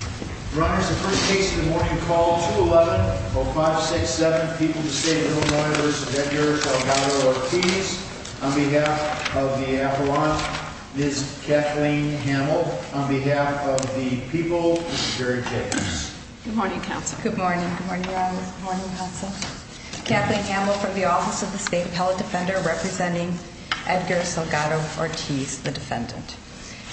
the first case of the morning call 211 0567 People to State of Illinois v. Edgar Salgado-Ortiz. On behalf of the Appellant, Ms. Kathleen Hamel. On behalf of the people, Mr. Jerry Jacobs. Good morning, Counsel. Good morning. Good morning, Your Honor. Good morning, Counsel. Kathleen Hamel from the Office of the State Appellate Defender representing Edgar Salgado-Ortiz, the defendant.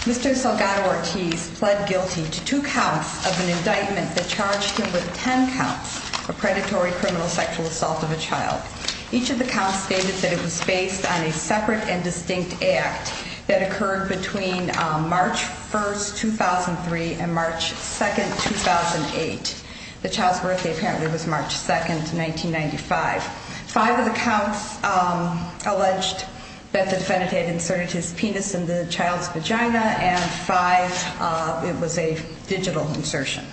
Mr. Salgado-Ortiz pled guilty to two counts of an indictment that charged him with 10 counts of predatory criminal sexual assault of a child. Each of the counts stated that it was based on a separate and distinct act that occurred between March 1st, 2003 and March 2nd, 2008. The child's birthday apparently was March 2nd, 1995. Five of the counts alleged that the defendant had inserted his penis in the child's vagina and five it was a digital insertion.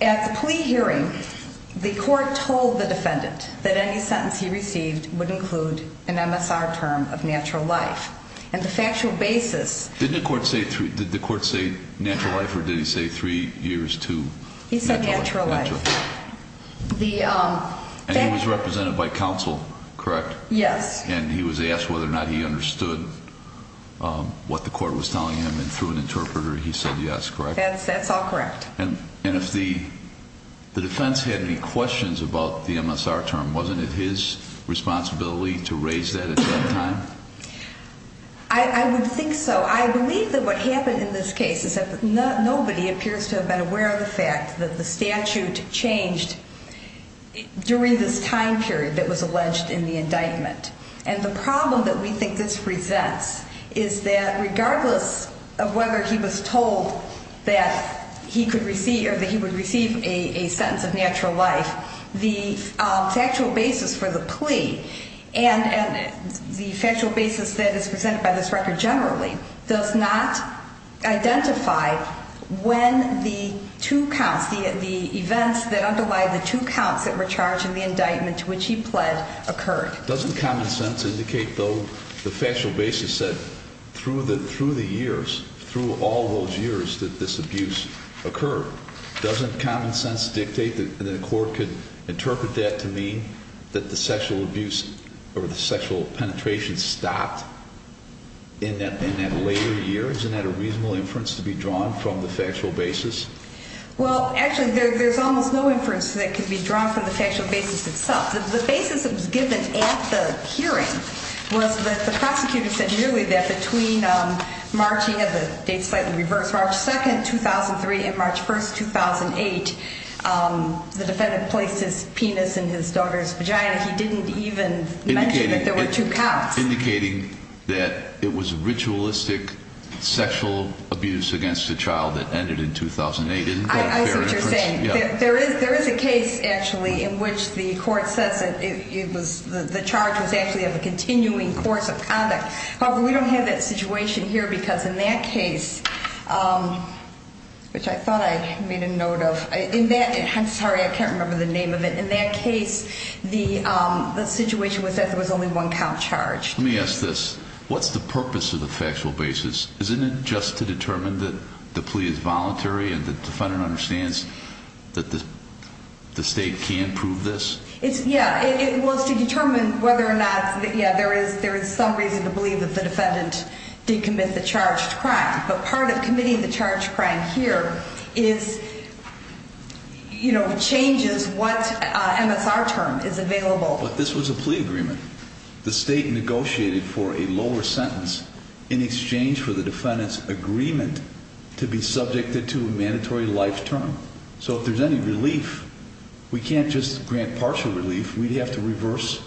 At the plea hearing, the court told the defendant that any sentence he received would include an MSR term of natural life. And the factual basis... Did the court say natural life or did he say three years to... He said natural life. And he was represented by counsel, correct? Yes. And he was asked whether or not he understood what the court was telling him and through an interpreter he said yes, correct? That's all correct. And if the defense had any questions about the MSR term, wasn't it his responsibility to raise that at that time? I would think so. I believe that what happened in this case is that nobody appears to have been aware of the fact that the statute changed during this time period that was alleged in the indictment. And the problem that we think this presents is that regardless of whether he was told that he could receive or that he would receive a sentence of natural life, the factual basis for the plea and the factual basis that is presented by this record generally does not identify when the two counts, the events that underlie the two counts that were charged in the indictment to which he pled, occurred. Doesn't common sense indicate, though, the factual basis that through the years, through all those years that this abuse occurred? Doesn't common sense dictate that the court could interpret that to mean that the sexual abuse or the sexual penetration stopped in that later year? Isn't that a reasonable inference to be drawn from the factual basis? Well, actually, there's almost no inference that could be drawn from the factual basis itself. The basis that was given at the hearing was that the prosecutor said merely that between March 2nd, 2003, and March 1st, 2008, the defendant placed his penis in his daughter's vagina. He didn't even mention that there were two counts. Indicating that it was ritualistic sexual abuse against a child that ended in 2008. I see what you're saying. There is a case, actually, in which the court says that the charge was actually of a continuing course of conduct. However, we don't have that situation here because in that case, which I thought I made a note of. I'm sorry, I can't remember the name of it. In that case, the situation was that there was only one count charged. Let me ask this. What's the purpose of the factual basis? Isn't it just to determine that the plea is voluntary and the defendant understands that the state can prove this? Yeah, it was to determine whether or not there is some reason to believe that the defendant did commit the charged crime. But part of committing the charged crime here changes what MSR term is available. But this was a plea agreement. The state negotiated for a lower sentence in exchange for the defendant's agreement to be subjected to a mandatory life term. So if there's any relief, we can't just grant partial relief. We'd have to reverse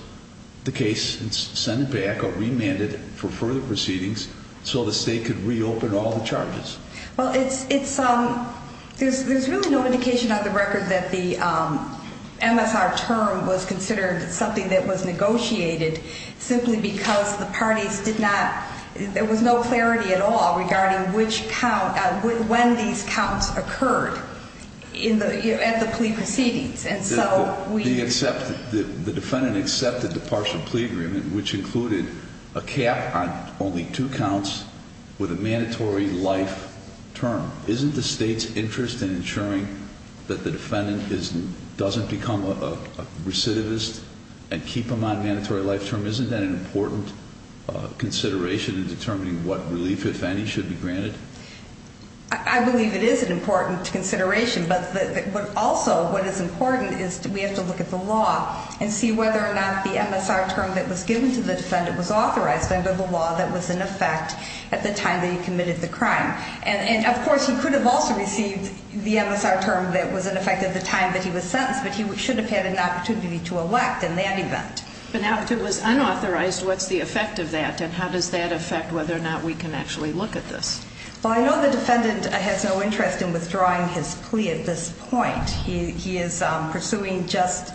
the case and send it back or remand it for further proceedings so the state could reopen all the charges. Well, there's really no indication on the record that the MSR term was considered something that was negotiated simply because there was no clarity at all regarding when these counts occurred at the plea proceedings. The defendant accepted the partial plea agreement, which included a cap on only two counts with a mandatory life term. Isn't the state's interest in ensuring that the defendant doesn't become a recidivist and keep him on mandatory life term, isn't that an important consideration in determining what relief, if any, should be granted? I believe it is an important consideration, but also what is important is we have to look at the law and see whether or not the MSR term that was given to the defendant was authorized under the law that was in effect at the time that he committed the crime. And, of course, he could have also received the MSR term that was in effect at the time that he was sentenced, but he should have had an opportunity to elect in that event. But now if it was unauthorized, what's the effect of that? And how does that affect whether or not we can actually look at this? Well, I know the defendant has no interest in withdrawing his plea at this point. He is pursuing just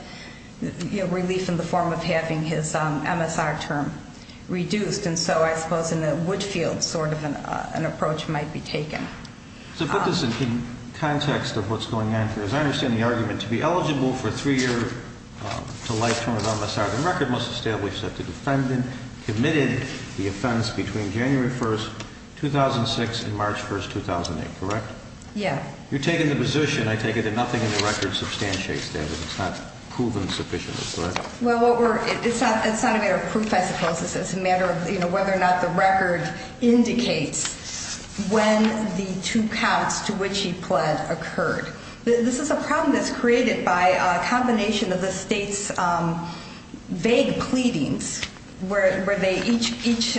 relief in the form of having his MSR term reduced, and so I suppose in the Woodfield sort of an approach might be taken. So put this in context of what's going on, because I understand the argument to be eligible for a three-year to life term of MSR. The record must establish that the defendant committed the offense between January 1, 2006 and March 1, 2008, correct? Yeah. You're taking the position, I take it, that nothing in the record substantiates that, that it's not proven sufficiently, correct? Well, it's not a matter of proof, I suppose. It's a matter of whether or not the record indicates when the two counts to which he pled occurred. This is a problem that's created by a combination of the state's vague pleadings, where each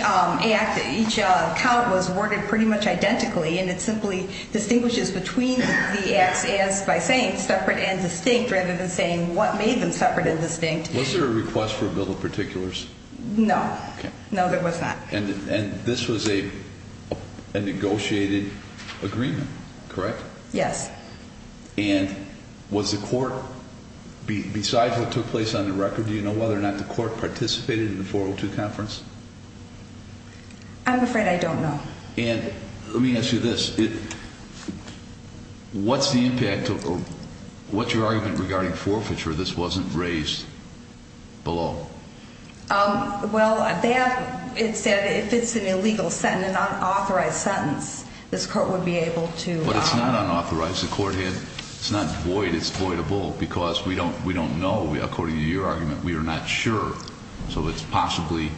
count was worded pretty much identically, and it simply distinguishes between the acts by saying separate and distinct rather than saying what made them separate and distinct. Was there a request for a bill of particulars? No. Okay. No, there was not. And this was a negotiated agreement, correct? Yes. And was the court, besides what took place on the record, do you know whether or not the court participated in the 402 conference? I'm afraid I don't know. And let me ask you this. What's the impact of, what's your argument regarding forfeiture if this wasn't raised below? Well, they have, it said if it's an illegal sentence, an unauthorized sentence, this court would be able to. But it's not unauthorized. The court had, it's not void. It's voidable because we don't know. According to your argument, we are not sure. So it's possibly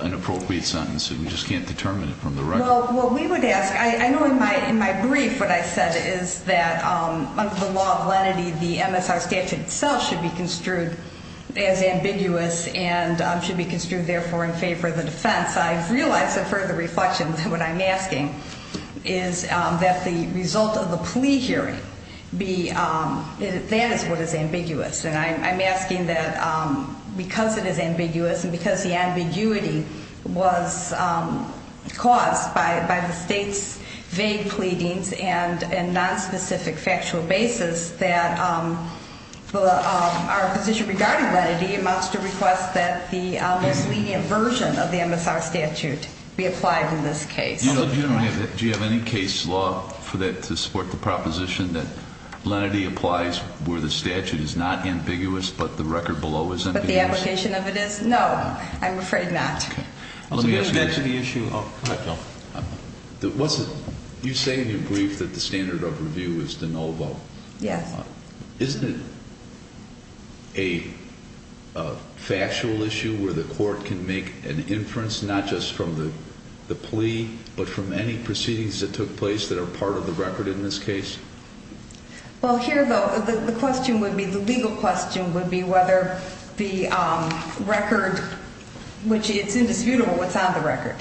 an appropriate sentence. We just can't determine it from the record. Well, we would ask, I know in my brief what I said is that under the law of lenity, the MSR statute itself should be construed as ambiguous and should be construed therefore in favor of the defense. I realize in further reflection that what I'm asking is that the result of the plea hearing be, that is what is ambiguous. And I'm asking that because it is ambiguous and because the ambiguity was caused by the state's vague pleadings and nonspecific factual basis that our position regarding lenity amounts to request that the lenient version of the MSR statute be applied in this case. Do you have any case law for that to support the proposition that lenity applies where the statute is not ambiguous but the record below is ambiguous? But the application of it is? No, I'm afraid not. Let me get to the issue. You say in your brief that the standard of review is de novo. Yes. Isn't it a factual issue where the court can make an inference, not just from the plea, but from any proceedings that took place that are part of the record in this case? Well, here, though, the question would be, the legal question would be whether the record, which it's indisputable what's on the record,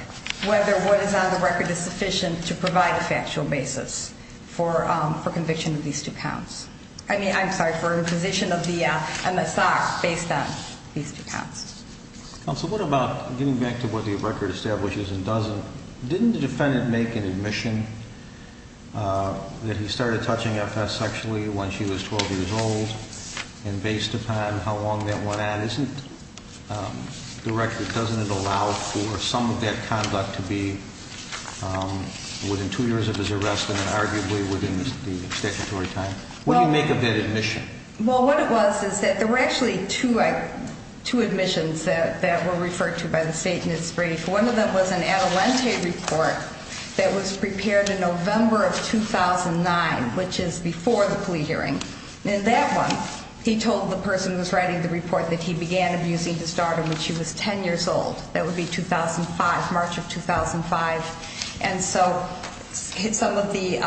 whether what is on the record is sufficient to provide a factual basis for conviction of these two counts. I mean, I'm sorry, for imposition of the MSR based on these two counts. Counsel, what about getting back to what the record establishes and doesn't? Didn't the defendant make an admission that he started touching FS sexually when she was 12 years old? And based upon how long that went on, isn't the record, doesn't it allow for some of that conduct to be within two years of his arrest and then arguably within the statutory time? What do you make of that admission? Well, what it was is that there were actually two admissions that were referred to by the state in its brief. One of them was an Adelante report that was prepared in November of 2009, which is before the plea hearing. In that one, he told the person who was writing the report that he began abusing his daughter when she was 10 years old. That would be 2005, March of 2005. And so some of the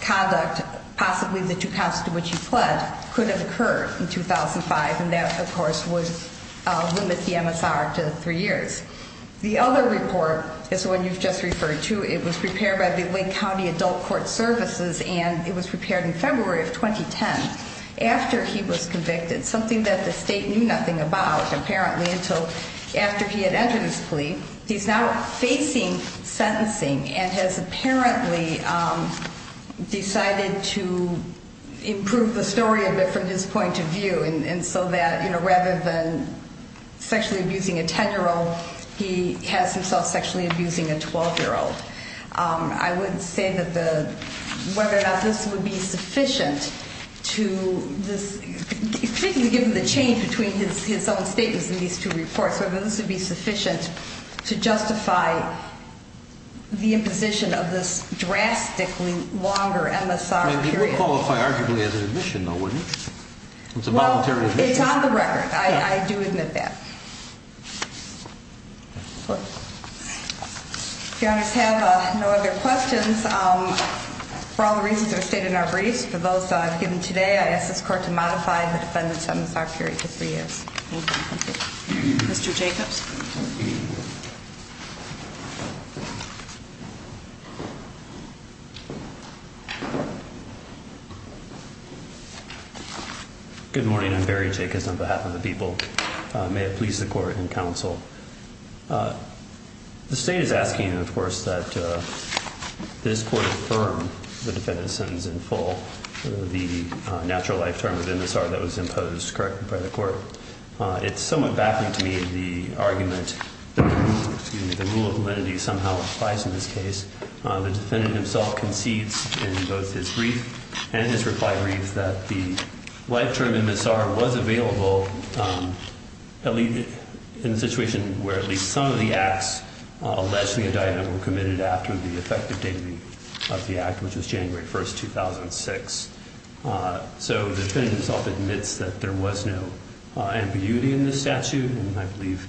conduct, possibly the two counts to which he pled, could have occurred in 2005, and that, of course, would limit the MSR to three years. The other report is the one you've just referred to. It was prepared by the Wake County Adult Court Services, and it was prepared in February of 2010, after he was convicted, something that the state knew nothing about apparently until after he had entered his plea. He's now facing sentencing and has apparently decided to improve the story a bit from his point of view so that rather than sexually abusing a 10-year-old, he has himself sexually abusing a 12-year-old. I wouldn't say whether or not this would be sufficient, particularly given the change between his own statements in these two reports, whether this would be sufficient to justify the imposition of this drastically longer MSR period. I mean, he would qualify arguably as an admission, though, wouldn't he? It's a voluntary admission. Well, it's on the record. I do admit that. If you have no other questions, for all the reasons that are stated in our briefs, for those given today, I ask this Court to modify the defendant's MSR period to three years. Mr. Jacobs. Good morning. I'm Barry Jacobs on behalf of the people. May it please the Court and counsel. The state is asking, of course, that this Court affirm the defendant's sentence in full, the natural life term of MSR that was imposed correctly by the Court. It's somewhat baffling to me the argument that the rule of lenity somehow applies in this case. The defendant himself concedes in both his brief and his reply brief that the life term MSR was available in the situation where at least some of the acts allegedly indictment were committed after the effective date of the act, which was January 1st, 2006. So the defendant himself admits that there was no ambiguity in this statute, and I believe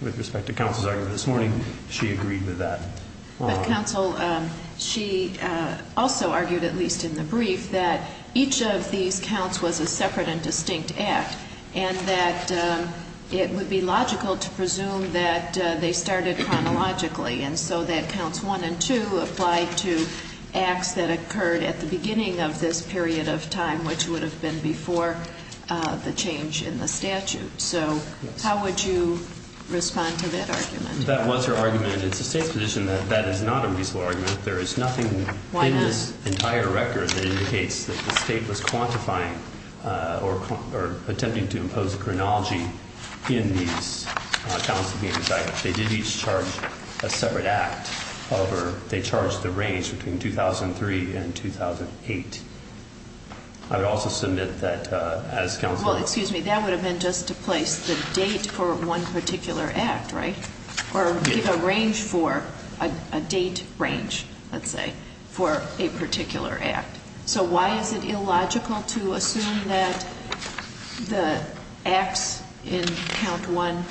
with respect to counsel's argument this morning, she agreed with that. But, counsel, she also argued, at least in the brief, that each of these counts was a separate and distinct act and that it would be logical to presume that they started chronologically and so that counts 1 and 2 applied to acts that occurred at the beginning of this period of time, which would have been before the change in the statute. So how would you respond to that argument? That was her argument. It's the state's position that that is not a reasonable argument. There is nothing in this entire record that indicates that the state was quantifying or attempting to impose a chronology in these counts that were being decided. They did each charge a separate act. However, they charged the range between 2003 and 2008. I would also submit that as counsel... Well, excuse me. That would have been just to place the date for one particular act, right, or give a range for a date range, let's say, for a particular act. So why is it illogical to assume that the acts in count 1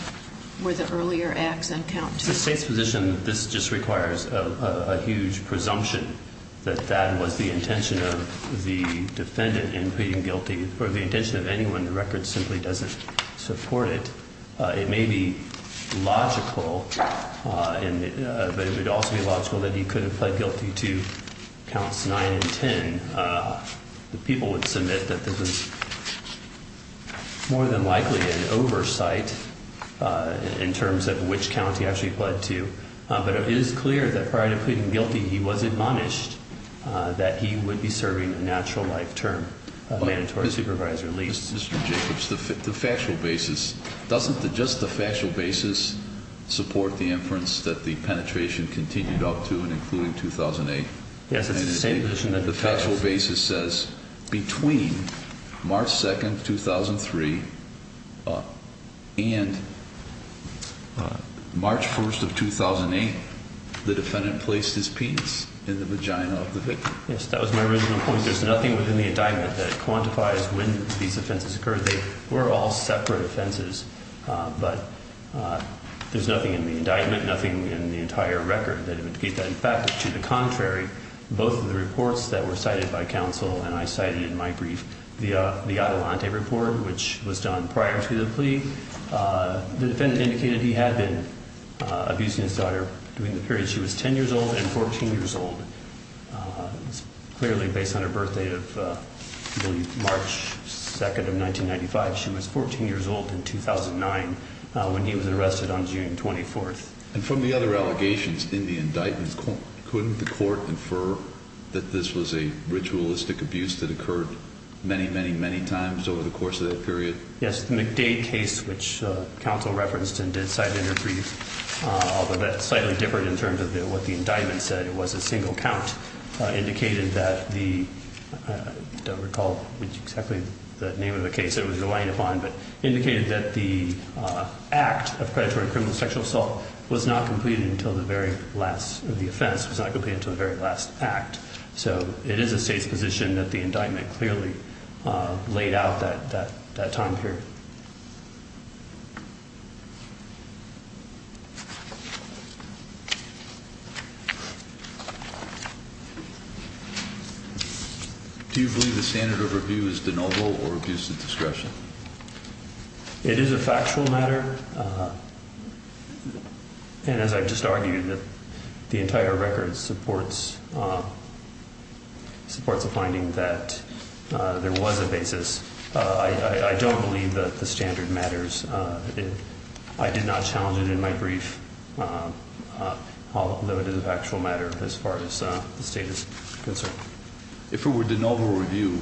were the earlier acts on count 2? It's the state's position that this just requires a huge presumption that that was the intention of the defendant in pleading guilty. For the intention of anyone, the record simply doesn't support it. It may be logical, but it would also be logical that he could have pled guilty to counts 9 and 10. The people would submit that there was more than likely an oversight in terms of which count he actually pled to. But it is clear that prior to pleading guilty, he was admonished that he would be serving a natural life term of mandatory supervisory leave. Mr. Jacobs, the factual basis. Doesn't just the factual basis support the inference that the penetration continued up to and including 2008? Yes, it's the same position that the factual basis says between March 2, 2003, and March 1 of 2008, the defendant placed his penis in the vagina of the victim. Yes, that was my original point. There's nothing within the indictment that quantifies when these offenses occurred. They were all separate offenses, but there's nothing in the indictment, nothing in the entire record that would indicate that. In fact, to the contrary, both of the reports that were cited by counsel and I cited in my brief, the Adelante report, which was done prior to the plea, the defendant indicated he had been abusing his daughter during the period she was 10 years old and 14 years old. It was clearly based on her birthday of, I believe, March 2, 1995. She was 14 years old in 2009 when he was arrested on June 24. And from the other allegations in the indictment, couldn't the court infer that this was a ritualistic abuse that occurred many, many, many times over the course of that period? Yes, the McDade case, which counsel referenced and did cite in her brief, although that's slightly different in terms of what the indictment said. It was a single count, indicated that the, I don't recall exactly the name of the case it was relying upon, but indicated that the act of predatory criminal sexual assault was not completed until the very last, or the offense was not completed until the very last act. So it is the state's position that the indictment clearly laid out that time period. Do you believe the standard of review is de novo or abuse of discretion? It is a factual matter. And as I just argued, the entire record supports a finding that there was a basis. I don't believe that the standard matters. I did not challenge it in my brief. Although it is a factual matter as far as the state is concerned. If it were de novo review,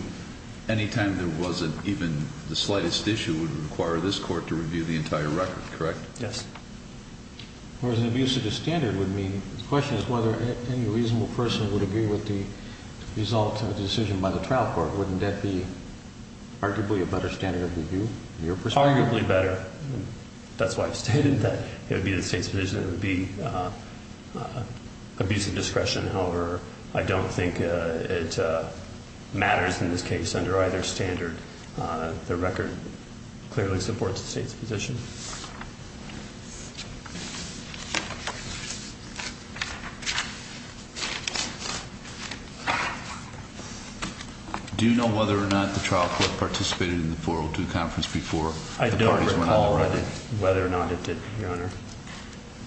any time there wasn't even the slightest issue, it would require this court to review the entire record, correct? Yes. Whereas an abuse of the standard would mean, the question is whether any reasonable person would agree with the result of the decision by the trial court. Wouldn't that be arguably a better standard of review in your perspective? Arguably better. That's why I've stated that it would be the state's position. It would be abuse of discretion. However, I don't think it matters in this case under either standard. The record clearly supports the state's position. Do you know whether or not the trial court participated in the 402 conference before? I don't recall whether or not it did, Your Honor.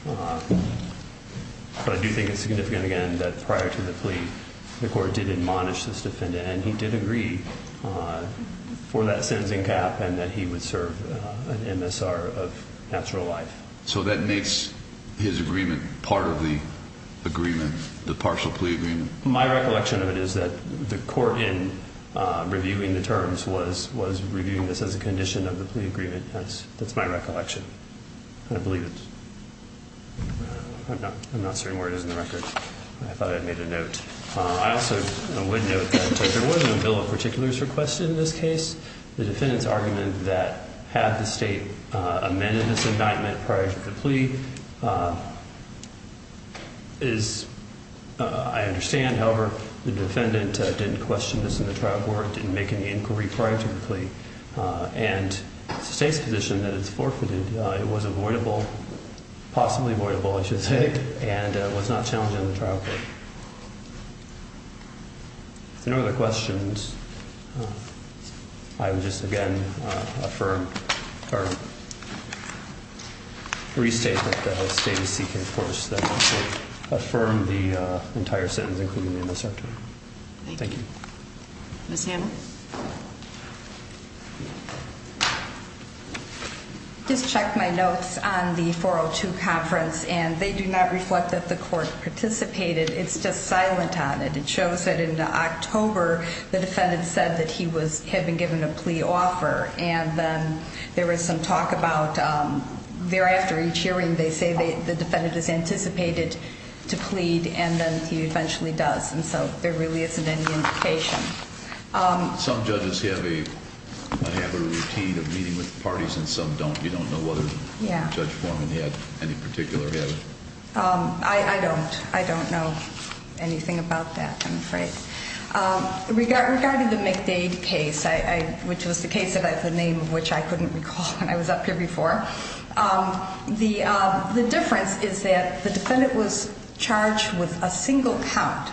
But I do think it's significant, again, that prior to the plea, the court did admonish this defendant. And he did agree for that sentencing cap and that he would serve an MSR of natural life. So that makes his agreement part of the agreement, the partial plea agreement? My recollection of it is that the court in reviewing the terms was reviewing this as a condition of the plea agreement. That's my recollection. I believe it. I'm not certain where it is in the record. I thought I'd made a note. I also would note that there wasn't a bill of particulars requested in this case. The defendant's argument that had the state amended this indictment prior to the plea is, I understand. However, the defendant didn't question this in the trial court, didn't make any inquiry prior to the plea. And it's the state's position that it's forfeited. It was avoidable, possibly avoidable, I should say, and was not challenged in the trial court. If there are no other questions, I would just, again, affirm or restate that the state is seeking a course that would affirm the entire sentence, including the MSR. Thank you. Ms. Hamel? Just checked my notes on the 402 conference, and they do not reflect that the court participated. It's just silent on it. It shows that in October, the defendant said that he had been given a plea offer. And then there was some talk about thereafter each hearing, they say the defendant is anticipated to plead, and then he eventually does. And so there really isn't any indication. Some judges have a routine of meeting with parties, and some don't. You don't know whether Judge Foreman had any particular habit? I don't. I don't know anything about that, I'm afraid. Regarding the McDade case, which was the case of the name of which I couldn't recall when I was up here before, the difference is that the defendant was charged with a single count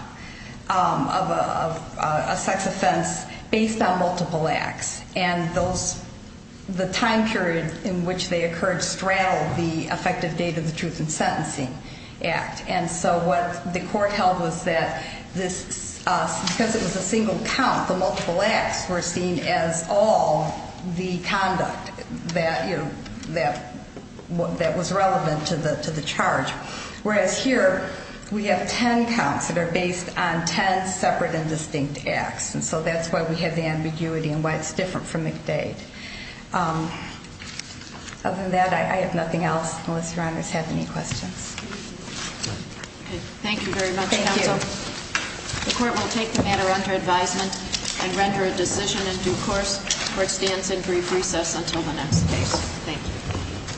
of a sex offense based on multiple acts. And the time period in which they occurred straddled the effective date of the Truth in Sentencing Act. And so what the court held was that because it was a single count, the multiple acts were seen as all the conduct that was relevant to the charge. Whereas here, we have ten counts that are based on ten separate and distinct acts. And so that's why we have the ambiguity and why it's different from McDade. Other than that, I have nothing else. Melissa, Your Honor, does have any questions? Okay. Thank you very much, Counsel. Thank you. The court will take the matter under advisement and render a decision in due course. The court stands in brief recess until the next case. Thank you.